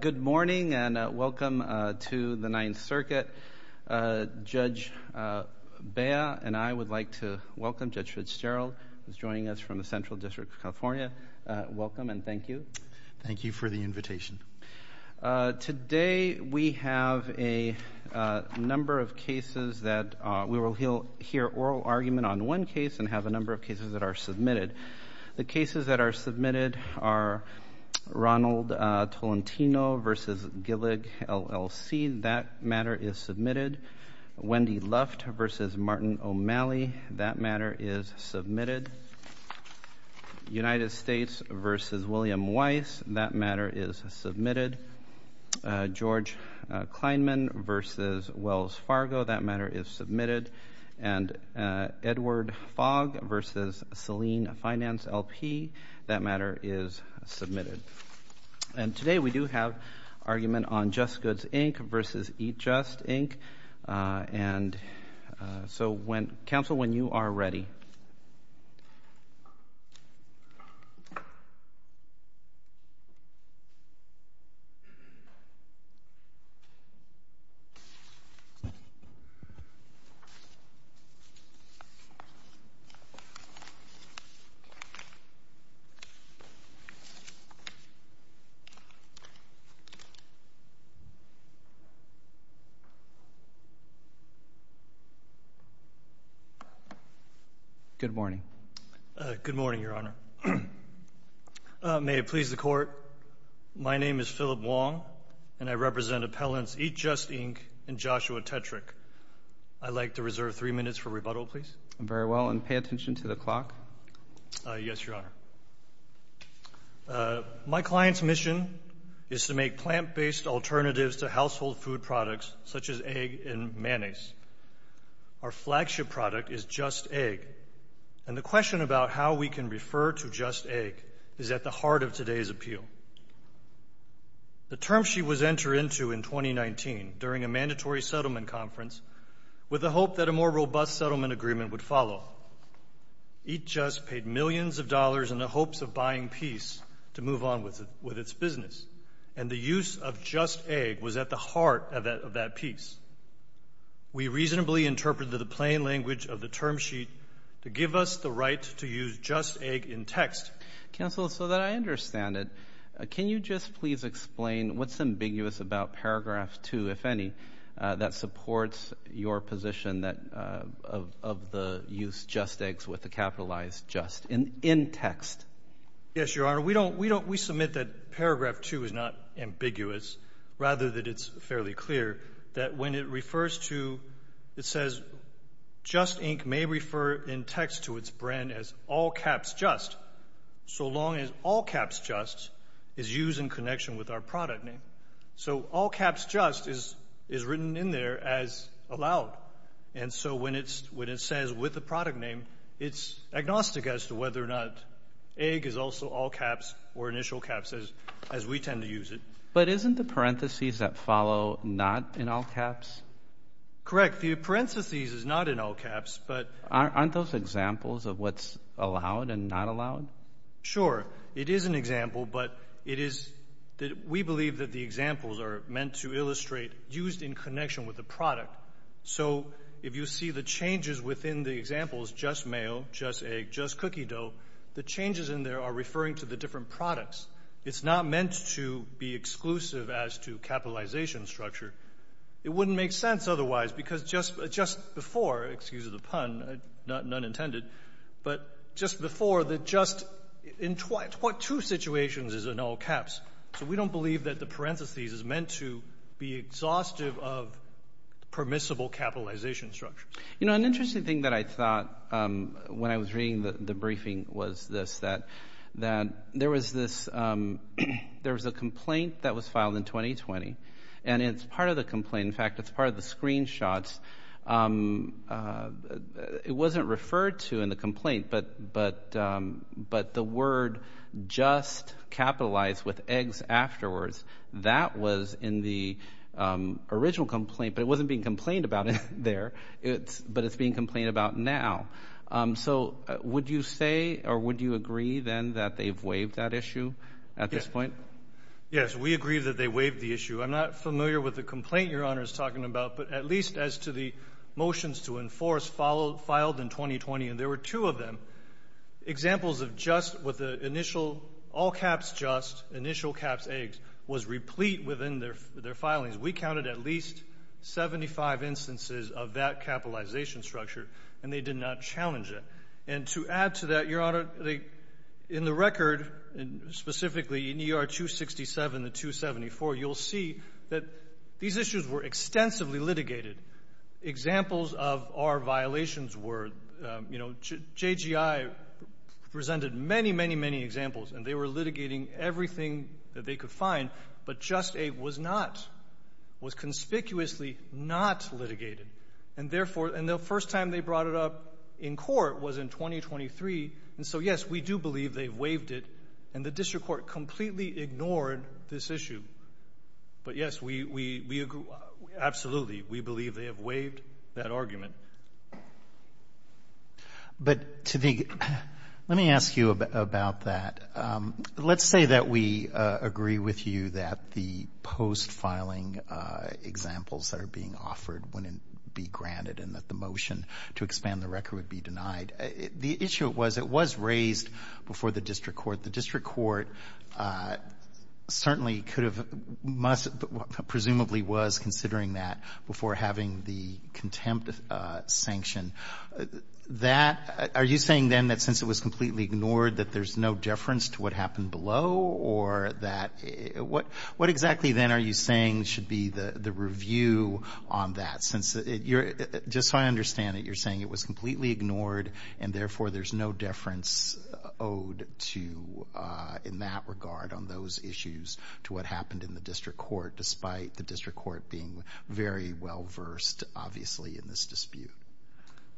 Good morning and welcome to the Ninth Circuit. Judge Bea and I would like to welcome Judge Fitzgerald, who is joining us from the Central District of California. Welcome and thank you. Thank you for the invitation. Today we have a number of cases that we will hear oral argument on one case and have a number of cases that are submitted. The cases that are submitted are Ronald Tolentino v. Gillig, LLC. That matter is submitted. Wendy Luft v. Martin O'Malley. That matter is submitted. United States v. William Weiss. That matter is submitted. George Kleinman v. Wells Fargo. That matter is submitted. And Edward Fogg v. Saline Finance, LP. That matter is submitted. And today we do have argument on Just Goods, Inc. v. Eat Just, Inc. And so, counsel, when you are ready. Good morning. Good morning, Your Honor. May it please the Court, my name is Phillip Wong and I represent appellants Eat Just, Inc. and Joshua Tetrick. I'd like to reserve three minutes for rebuttal, please. Very well and pay attention to the clock. Yes, Your Honor. My client's mission is to make plant-based alternatives to household food products, such as egg and mayonnaise. Our flagship product is Just Egg, and the question about how we can refer to Just Egg is at the heart of today's appeal. The term she was entered into in 2019 during a mandatory settlement conference with the hope that a more robust settlement agreement would follow. Eat Just paid millions of dollars in the hopes of buying peace to move on with its business, and the use of Just Egg was at the heart of that peace. We reasonably interpreted the plain language of the term sheet to give us the right to use Just Egg in text. Counsel, so that I understand it, can you just please explain what's ambiguous about paragraph 2, if any, that supports your position of the use Just Eggs with the capitalized Just in text? Yes, Your Honor. We submit that paragraph 2 is not ambiguous, rather that it's fairly clear, that when it refers to, it says, Just Inc. may refer in text to its brand as All Caps Just, so long as All Caps Just is used in connection with our product name. So All Caps Just is written in there as allowed, and so when it says with the product name, it's agnostic as to whether or not Egg is also All Caps or Initial Caps, as we tend to use it. But isn't the parentheses that follow not in All Caps? Correct. The parentheses is not in All Caps, but Aren't those examples of what's allowed and not allowed? Sure. It is an example, but it is that we believe that the examples are meant to illustrate used in connection with the product. So if you see the changes within the examples, Just Mayo, Just Egg, Just Cookie Dough, the changes in there are referring to the different products. It's not meant to be exclusive as to capitalization structure. It wouldn't make sense otherwise, because just before, excuse the pun, none intended, but just before, the Just in two situations is in All Caps, so we don't believe that the is meant to be exhaustive of permissible capitalization structure. An interesting thing that I thought when I was reading the briefing was this, that there was a complaint that was filed in 2020, and it's part of the complaint, in fact, it's part of the screenshots, it wasn't referred to in the complaint, but the word Just Capitalized with Eggs afterwards, that was in the original complaint, but it wasn't being complained about there, but it's being complained about now. So would you say or would you agree then that they've waived that issue at this point? Yes, we agree that they waived the issue. I'm not familiar with the complaint Your Honor is talking about, but at least as to the motions to enforce filed in 2020, and there were two of them, examples of Just with the initial All Caps Just, initial caps Eggs, was replete within their filings. We counted at least 75 instances of that capitalization structure, and they did not challenge it. And to add to that, Your Honor, in the record, specifically in ER 267 to 274, you'll see that these issues were extensively litigated. Examples of our violations were, you know, JGI presented many, many, many examples, and they were litigating everything that they could find, but Just Egg was not, was conspicuously not litigated. And therefore, and the first time they brought it up in court was in 2023, and so yes, we do believe they've waived it, and the district court completely ignored this issue. But yes, we agree, absolutely, we believe they have waived that argument. But to the, let me ask you about that. Let's say that we agree with you that the post-filing examples that are being offered wouldn't be granted and that the motion to expand the record would be denied. The issue was it was raised before the district court. The district court certainly could have, must, presumably was considering that before having the contempt sanction. That, are you saying then that since it was completely ignored that there's no deference to what happened below, or that, what exactly then are you saying should be the review on that, since you're, just so I understand it, you're saying it was completely ignored, and therefore there's no deference owed to, in that regard, on those issues to what happened in the district court, despite the district court being very well-versed, obviously, in this dispute?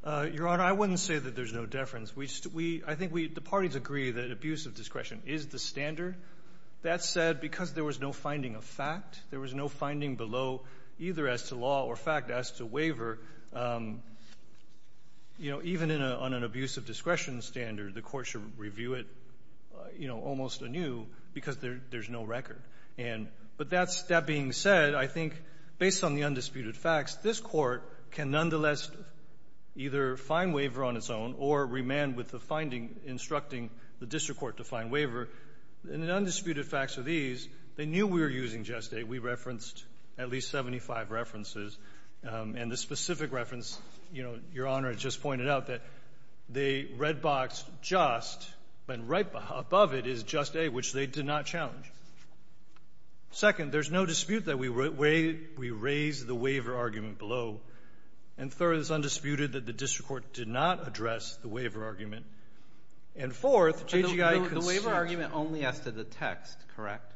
Your Honor, I wouldn't say that there's no deference. We just, we, I think we, the parties agree that abuse of discretion is the standard. That said, because there was no finding of fact, there was no finding below either as to law or fact as to waiver, you know, even in a, on an abuse of discretion standard, the Court should review it, you know, almost anew because there's no record. And, but that's, that being said, I think, based on the undisputed facts, this Court can nonetheless either find waiver on its own or remand with the finding instructing the district court to find waiver. And the undisputed facts are these. They knew we were using Just A. We referenced at least 75 references. And the specific reference, you know, Your Honor just pointed out that the red box Just, and right above it is Just A, which they did not challenge. Second, there's no dispute that we raised the waiver argument below. And third, it's undisputed that the district court did not address the waiver argument. And fourth, JGI considered the waiver argument only as to the text, correct?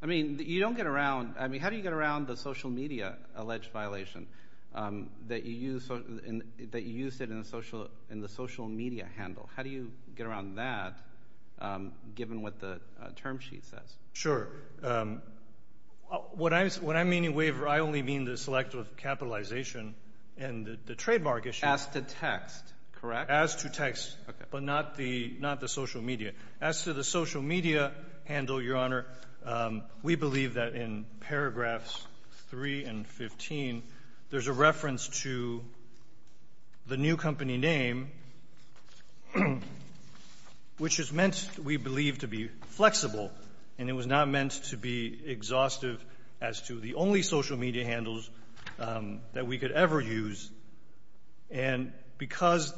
I mean, you don't get around, I mean, how do you get around the social media alleged violation that you used, that you used it in the social media handle? How do you get around that given what the term sheet says? Sure. What I'm, what I mean in waiver, I only mean the selective capitalization and the trademark issue. As to text, correct? As to text, but not the, not the social media. As to the social media handle, Your Honor, we believe that in paragraphs 3 and 15, there's a reference to the new company name, which is meant, we believe, to be flexible. And it was not meant to be exhaustive as to the only social media handles that we could ever use. And because,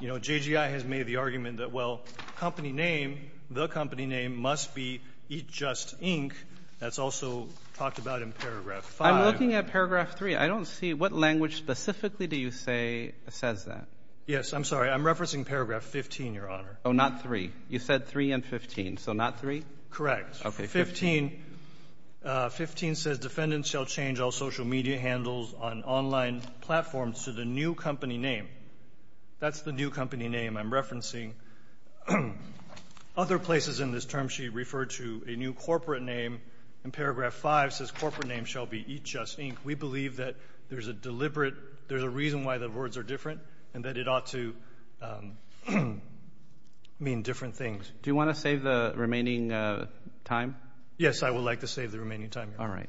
you know, JGI has made the argument that, well, company name, the company name must be Eat Just, Inc. That's also talked about in paragraph 5. I'm looking at paragraph 3. I don't see what language specifically do you say says that. Yes. I'm sorry. I'm referencing paragraph 15, Your Honor. Oh, not 3. You said 3 and 15. So not 3? Correct. Okay. 15. 15 says defendants shall change all social media handles on online platforms to the new company name. That's the new company name I'm referencing. Other places in this term she referred to a new corporate name. In paragraph 5 says corporate name shall be Eat Just, Inc. We believe that there's a deliberate, there's a reason why the words are different and that it ought to mean different things. Do you want to save the remaining time? Yes, I would like to save the remaining time, Your Honor. All right.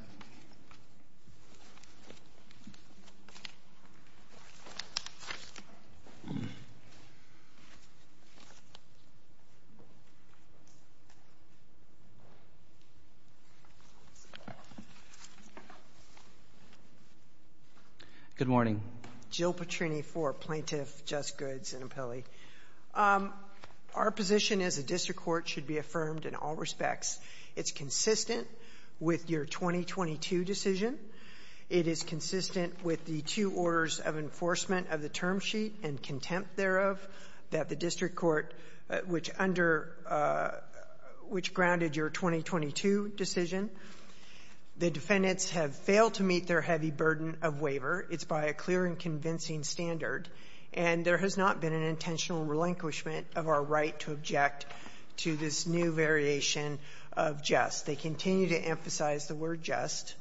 Good morning. Jill Petrini for Plaintiff Just Goods and Appellee. Our position is a district court should be affirmed in all respects. It's consistent with your 2022 decision. It is consistent with the two orders of enforcement of the term sheet and contempt thereof that the district court, which under, which grounded your 2022 decision, the defendants have failed to meet their heavy burden of waiver. It's by a clear and convincing standard. And there has not been an intentional relinquishment of our right to object to this new variation of just. They continue to emphasize the word just.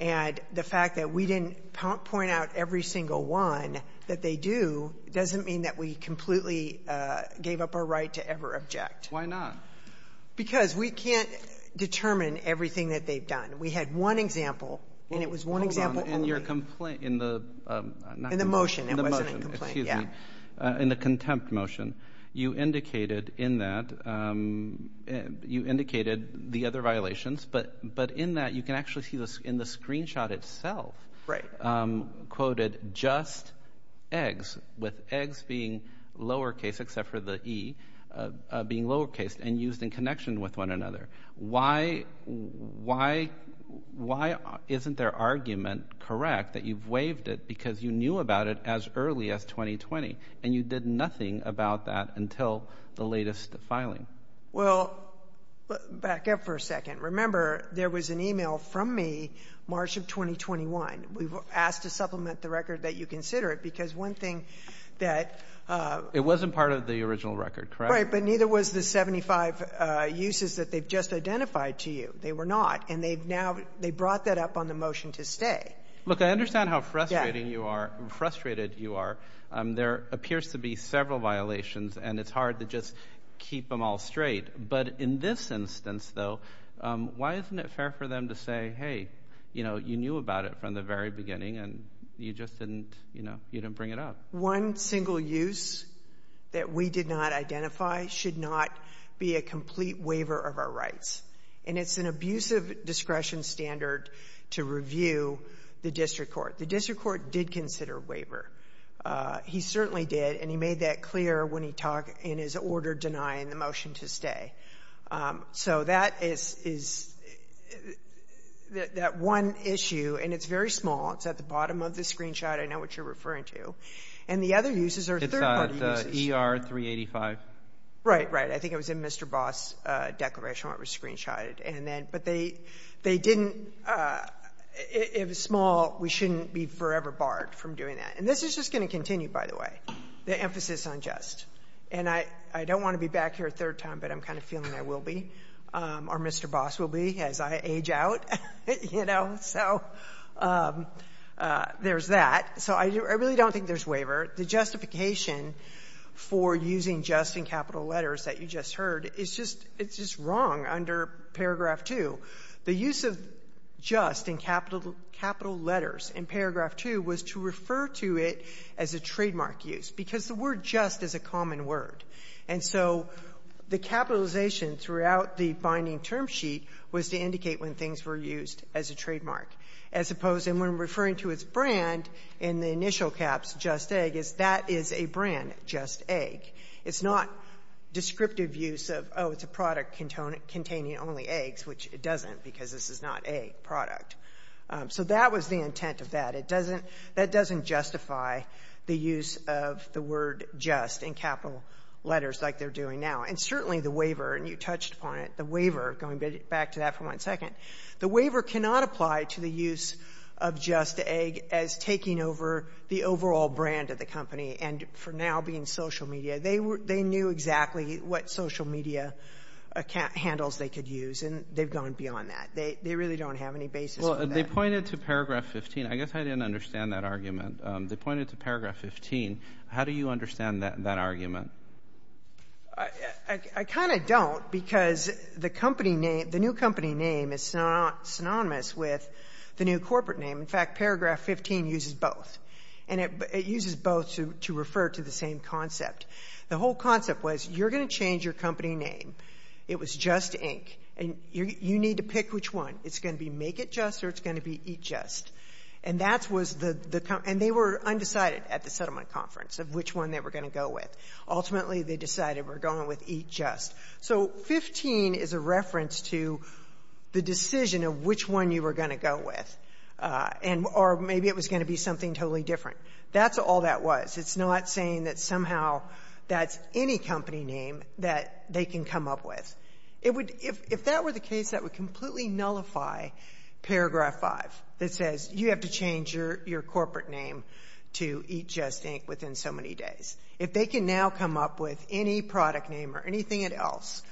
And the fact that we didn't point out every single one that they do doesn't mean that we completely gave up our right to ever object. Why not? Because we can't determine everything that they've done. We had one example, and it was one example only. In your complaint, in the not complaint. In the motion. In the motion. In the motion. Excuse me. Yeah. In the motion. In the contempt motion. You indicated in that, you indicated the other violations. But in that you can actually see in the screenshot itself. Right. Quoted just eggs with eggs being lower case except for the E being lower case and used in connection with one another. Why isn't their argument correct that you've waived it because you knew about it as early as 2020 and you did nothing about that until the latest filing? Well, back up for a second. Remember, there was an email from me March of 2021. We've asked to supplement the record that you consider it because one thing that. It wasn't part of the original record, correct? Right. But neither was the 75 uses that they've just identified to you. They were not. And they've now. They brought that up on the motion to stay. Look, I understand how frustrating you are. Frustrated you are. There appears to be several violations and it's hard to just keep them all straight. But in this instance, though, why isn't it fair for them to say, hey, you know, you knew about it from the very beginning and you just didn't, you know, you didn't bring it up. One single use that we did not identify should not be a complete waiver of our rights. And it's an abusive discretion standard to review the district court. The district court did consider a waiver. He certainly did. And he made that clear when he talked in his order denying the motion to stay. So that is that one issue. And it's very small. It's at the bottom of the screenshot. I know what you're referring to. And the other uses are third-party uses. It's at ER 385. Right, right. I think it was in Mr. Boss' declaration when it was screenshotted. And then, but they didn't, it was small. We shouldn't be forever barred from doing that. And this is just going to continue, by the way, the emphasis on just. And I don't want to be back here a third time, but I'm kind of feeling I will be, or Mr. Boss will be, as I age out, you know. So there's that. So I really don't think there's waiver. The justification for using just in capital letters that you just heard, it's just wrong under paragraph 2. The use of just in capital letters in paragraph 2 was to refer to it as a trademark use, because the word just is a common word. And so the capitalization throughout the binding term sheet was to indicate when things were used as a trademark. As opposed to when referring to its brand in the initial caps, just egg, is that is a brand, just egg. It's not descriptive use of, oh, it's a product containing only eggs, which it doesn't because this is not a product. So that was the intent of that. It doesn't, that doesn't justify the use of the word just in capital letters like they're doing now. And certainly the waiver, and you touched upon it, the waiver, going back to that for one second, the waiver cannot apply to the use of just egg as taking over the overall brand of the company. And for now, being social media, they knew exactly what social media handles they could use, and they've gone beyond that. They really don't have any basis for that. Well, they pointed to paragraph 15. I guess I didn't understand that argument. They pointed to paragraph 15. How do you understand that argument? I kind of don't because the company name, the new company name is synonymous with the new corporate name. In fact, paragraph 15 uses both, and it uses both to refer to the same concept. The whole concept was you're going to change your company name. It was just ink, and you need to pick which one. It's going to be make it just or it's going to be eat just. And that was the, and they were undecided at the settlement conference of which one they were going to go with. Ultimately, they decided we're going with eat just. So 15 is a reference to the decision of which one you were going to go with, or maybe it was going to be something totally different. That's all that was. It's not saying that somehow that's any company name that they can come up with. If that were the case, that would completely nullify paragraph 5. It says you have to change your corporate name to eat just ink within so many days. If they can now come up with any product name or anything else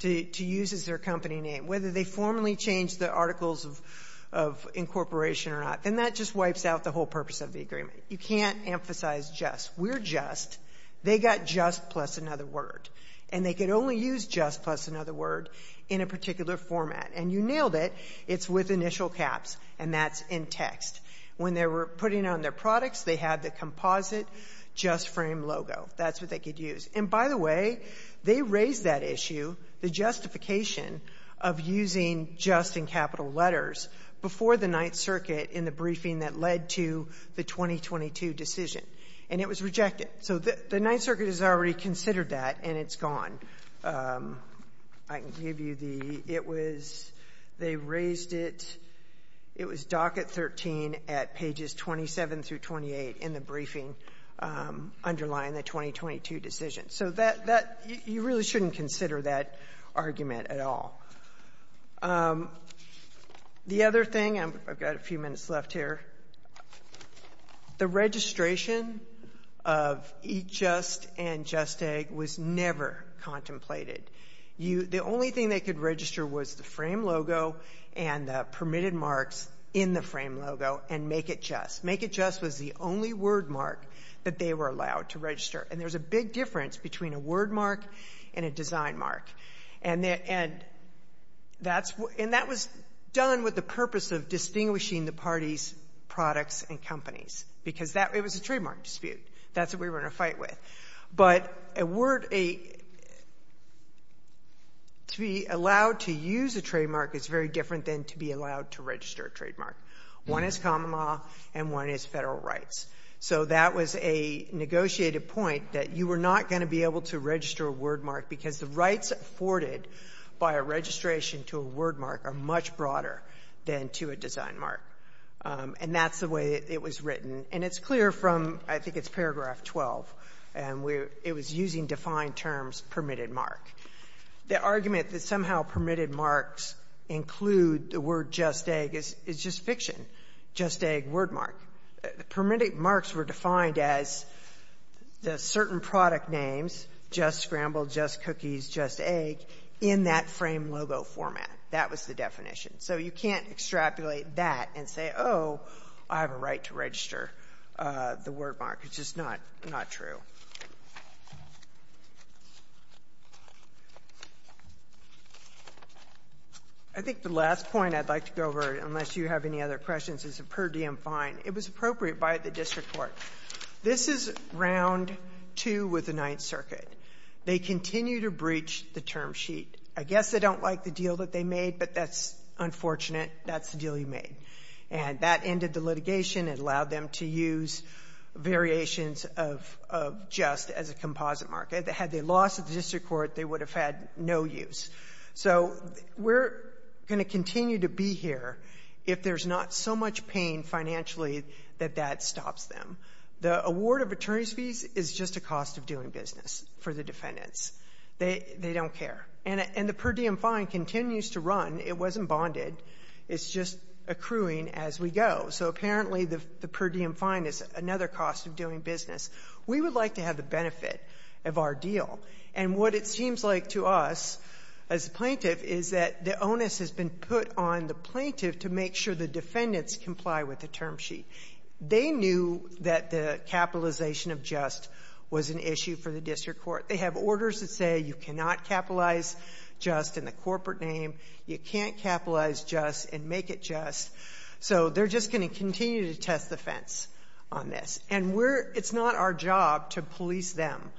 to use as their company name, whether they formally change the articles of incorporation or not, then that just wipes out the whole purpose of the agreement. You can't emphasize just. We're just. They got just plus another word, and they could only use just plus another word in a particular format, and you nailed it. It's with initial caps, and that's in text. When they were putting on their products, they had the composite just frame logo. That's what they could use. And by the way, they raised that issue, the justification of using just in capital letters before the Ninth Circuit in the briefing that led to the 2022 decision, and it was rejected. So the Ninth Circuit has already considered that, and it's gone. I can give you the — it was — they raised it. It was docket 13 at pages 27 through 28 in the briefing underlying the 2022 decision. So that — you really shouldn't consider that argument at all. The other thing — I've got a few minutes left here. The registration of eat just and just egg was never contemplated. The only thing they could register was the frame logo and the permitted marks in the frame logo and make it just. Make it just was the only word mark that they were allowed to register, and there's a big difference between a word mark and a design mark. And that's — and that was done with the purpose of distinguishing the parties products and companies because that — it was a trademark dispute. That's what we were in a fight with. But a word — to be allowed to use a trademark is very different than to be allowed to register a trademark. One is common law and one is federal rights. So that was a negotiated point that you were not going to be able to register a word mark because the rights afforded by a registration to a word mark are much broader than to a design mark. And that's the way it was written. And it's clear from — I think it's paragraph 12, and we're — it was using defined terms, permitted mark. The argument that somehow permitted marks include the word just egg is just fiction, just egg, word mark. The permitted marks were defined as the certain product names, just scrambled, just cookies, just egg, in that frame logo format. That was the definition. So you can't extrapolate that and say, oh, I have a right to register the word mark. It's just not — not true. I think the last point I'd like to go over, unless you have any other questions, is a per diem fine. It was appropriate by the district court. This is Round 2 with the Ninth Circuit. They continue to breach the term sheet. I guess they don't like the deal that they made, but that's unfortunate. That's the deal you made. And that ended the litigation. It allowed them to use variations of just as a composite mark. Had they lost at the district court, they would have had no use. So we're going to continue to be here if there's not so much pain financially that that stops them. The award of attorney's fees is just a cost of doing business for the defendants. They don't care. And the per diem fine continues to run. It wasn't bonded. It's just accruing as we go. So apparently the per diem fine is another cost of doing business. We would like to have the benefit of our deal. And what it seems like to us as a plaintiff is that the onus has been put on the plaintiff to make sure the defendants comply with the term sheet. They knew that the capitalization of just was an issue for the district court. They have orders that say you cannot capitalize just in the corporate name. You can't capitalize just and make it just. So they're just going to continue to test the fence on this. And it's not our job to police them.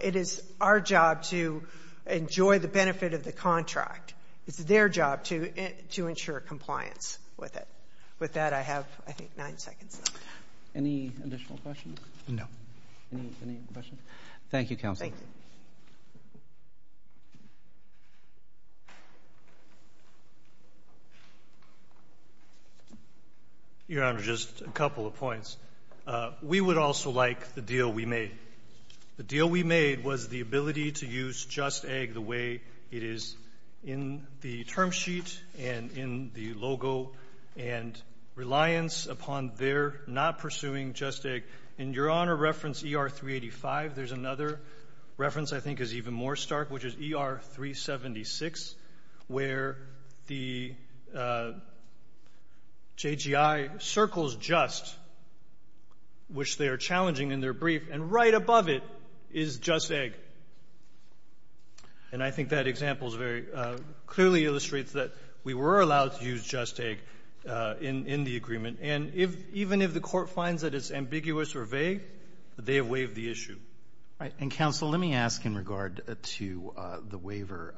It is our job to enjoy the benefit of the contract. It's their job to ensure compliance with it. With that, I have, I think, nine seconds left. Any additional questions? No. Any questions? Thank you, Counsel. Thank you. Your Honor, just a couple of points. We would also like the deal we made. The deal we made was the ability to use Just Egg the way it is in the term sheet and in the logo and reliance upon their not pursuing Just Egg. In Your Honor reference ER-385, there's another reference I think is even more stark, which is ER-376, where the JGI circles Just, which they are challenging in their brief, and right above it is Just Egg. And I think that example is very — clearly illustrates that we were allowed to use Just Egg in the agreement. And even if the Court finds that it's ambiguous or vague, they have waived the issue. All right. And, Counsel, let me ask in regard to the waiver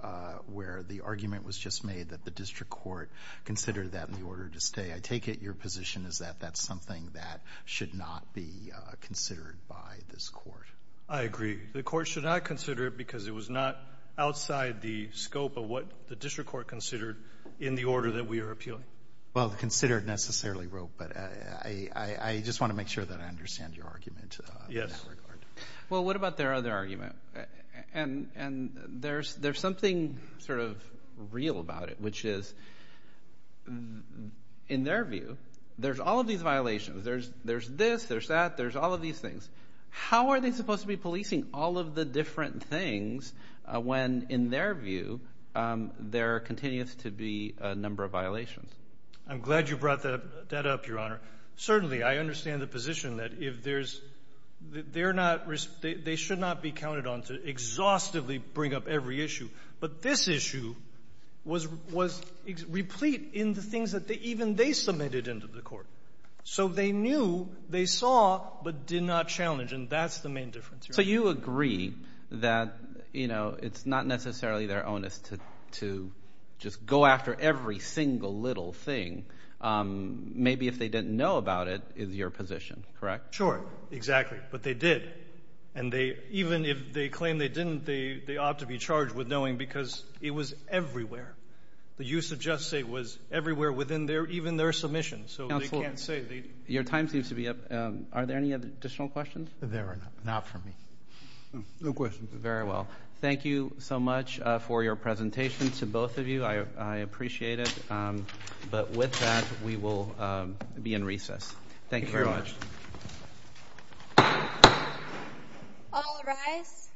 where the argument was just made that the district court considered that in the order to stay. I take it your position is that that's something that should not be considered by this Court. I agree. The Court should not consider it because it was not outside the scope of what the district court considered in the order that we are appealing. Well, considered necessarily, Roe. But I just want to make sure that I understand your argument in that regard. Yes. Well, what about their other argument? And there's something sort of real about it, which is, in their view, there's all of these violations. There's this. There's that. There's all of these things. How are they supposed to be policing all of the different things when, in their view, there continues to be a number of violations? I'm glad you brought that up, Your Honor. Certainly, I understand the position that if there's – they're not – they should not be counted on to exhaustively bring up every issue. But this issue was replete in the things that even they submitted into the Court. So they knew, they saw, but did not challenge. And that's the main difference, Your Honor. So you agree that it's not necessarily their onus to just go after every single little thing. Maybe if they didn't know about it is your position, correct? Sure. Exactly. But they did. And even if they claim they didn't, they ought to be charged with knowing because it was everywhere. The use of just say was everywhere within even their submission. So they can't say. Your time seems to be up. Are there any additional questions? There are not for me. No questions. Very well. Thank you so much for your presentation to both of you. I appreciate it. But with that, we will be in recess. Thank you very much. All rise.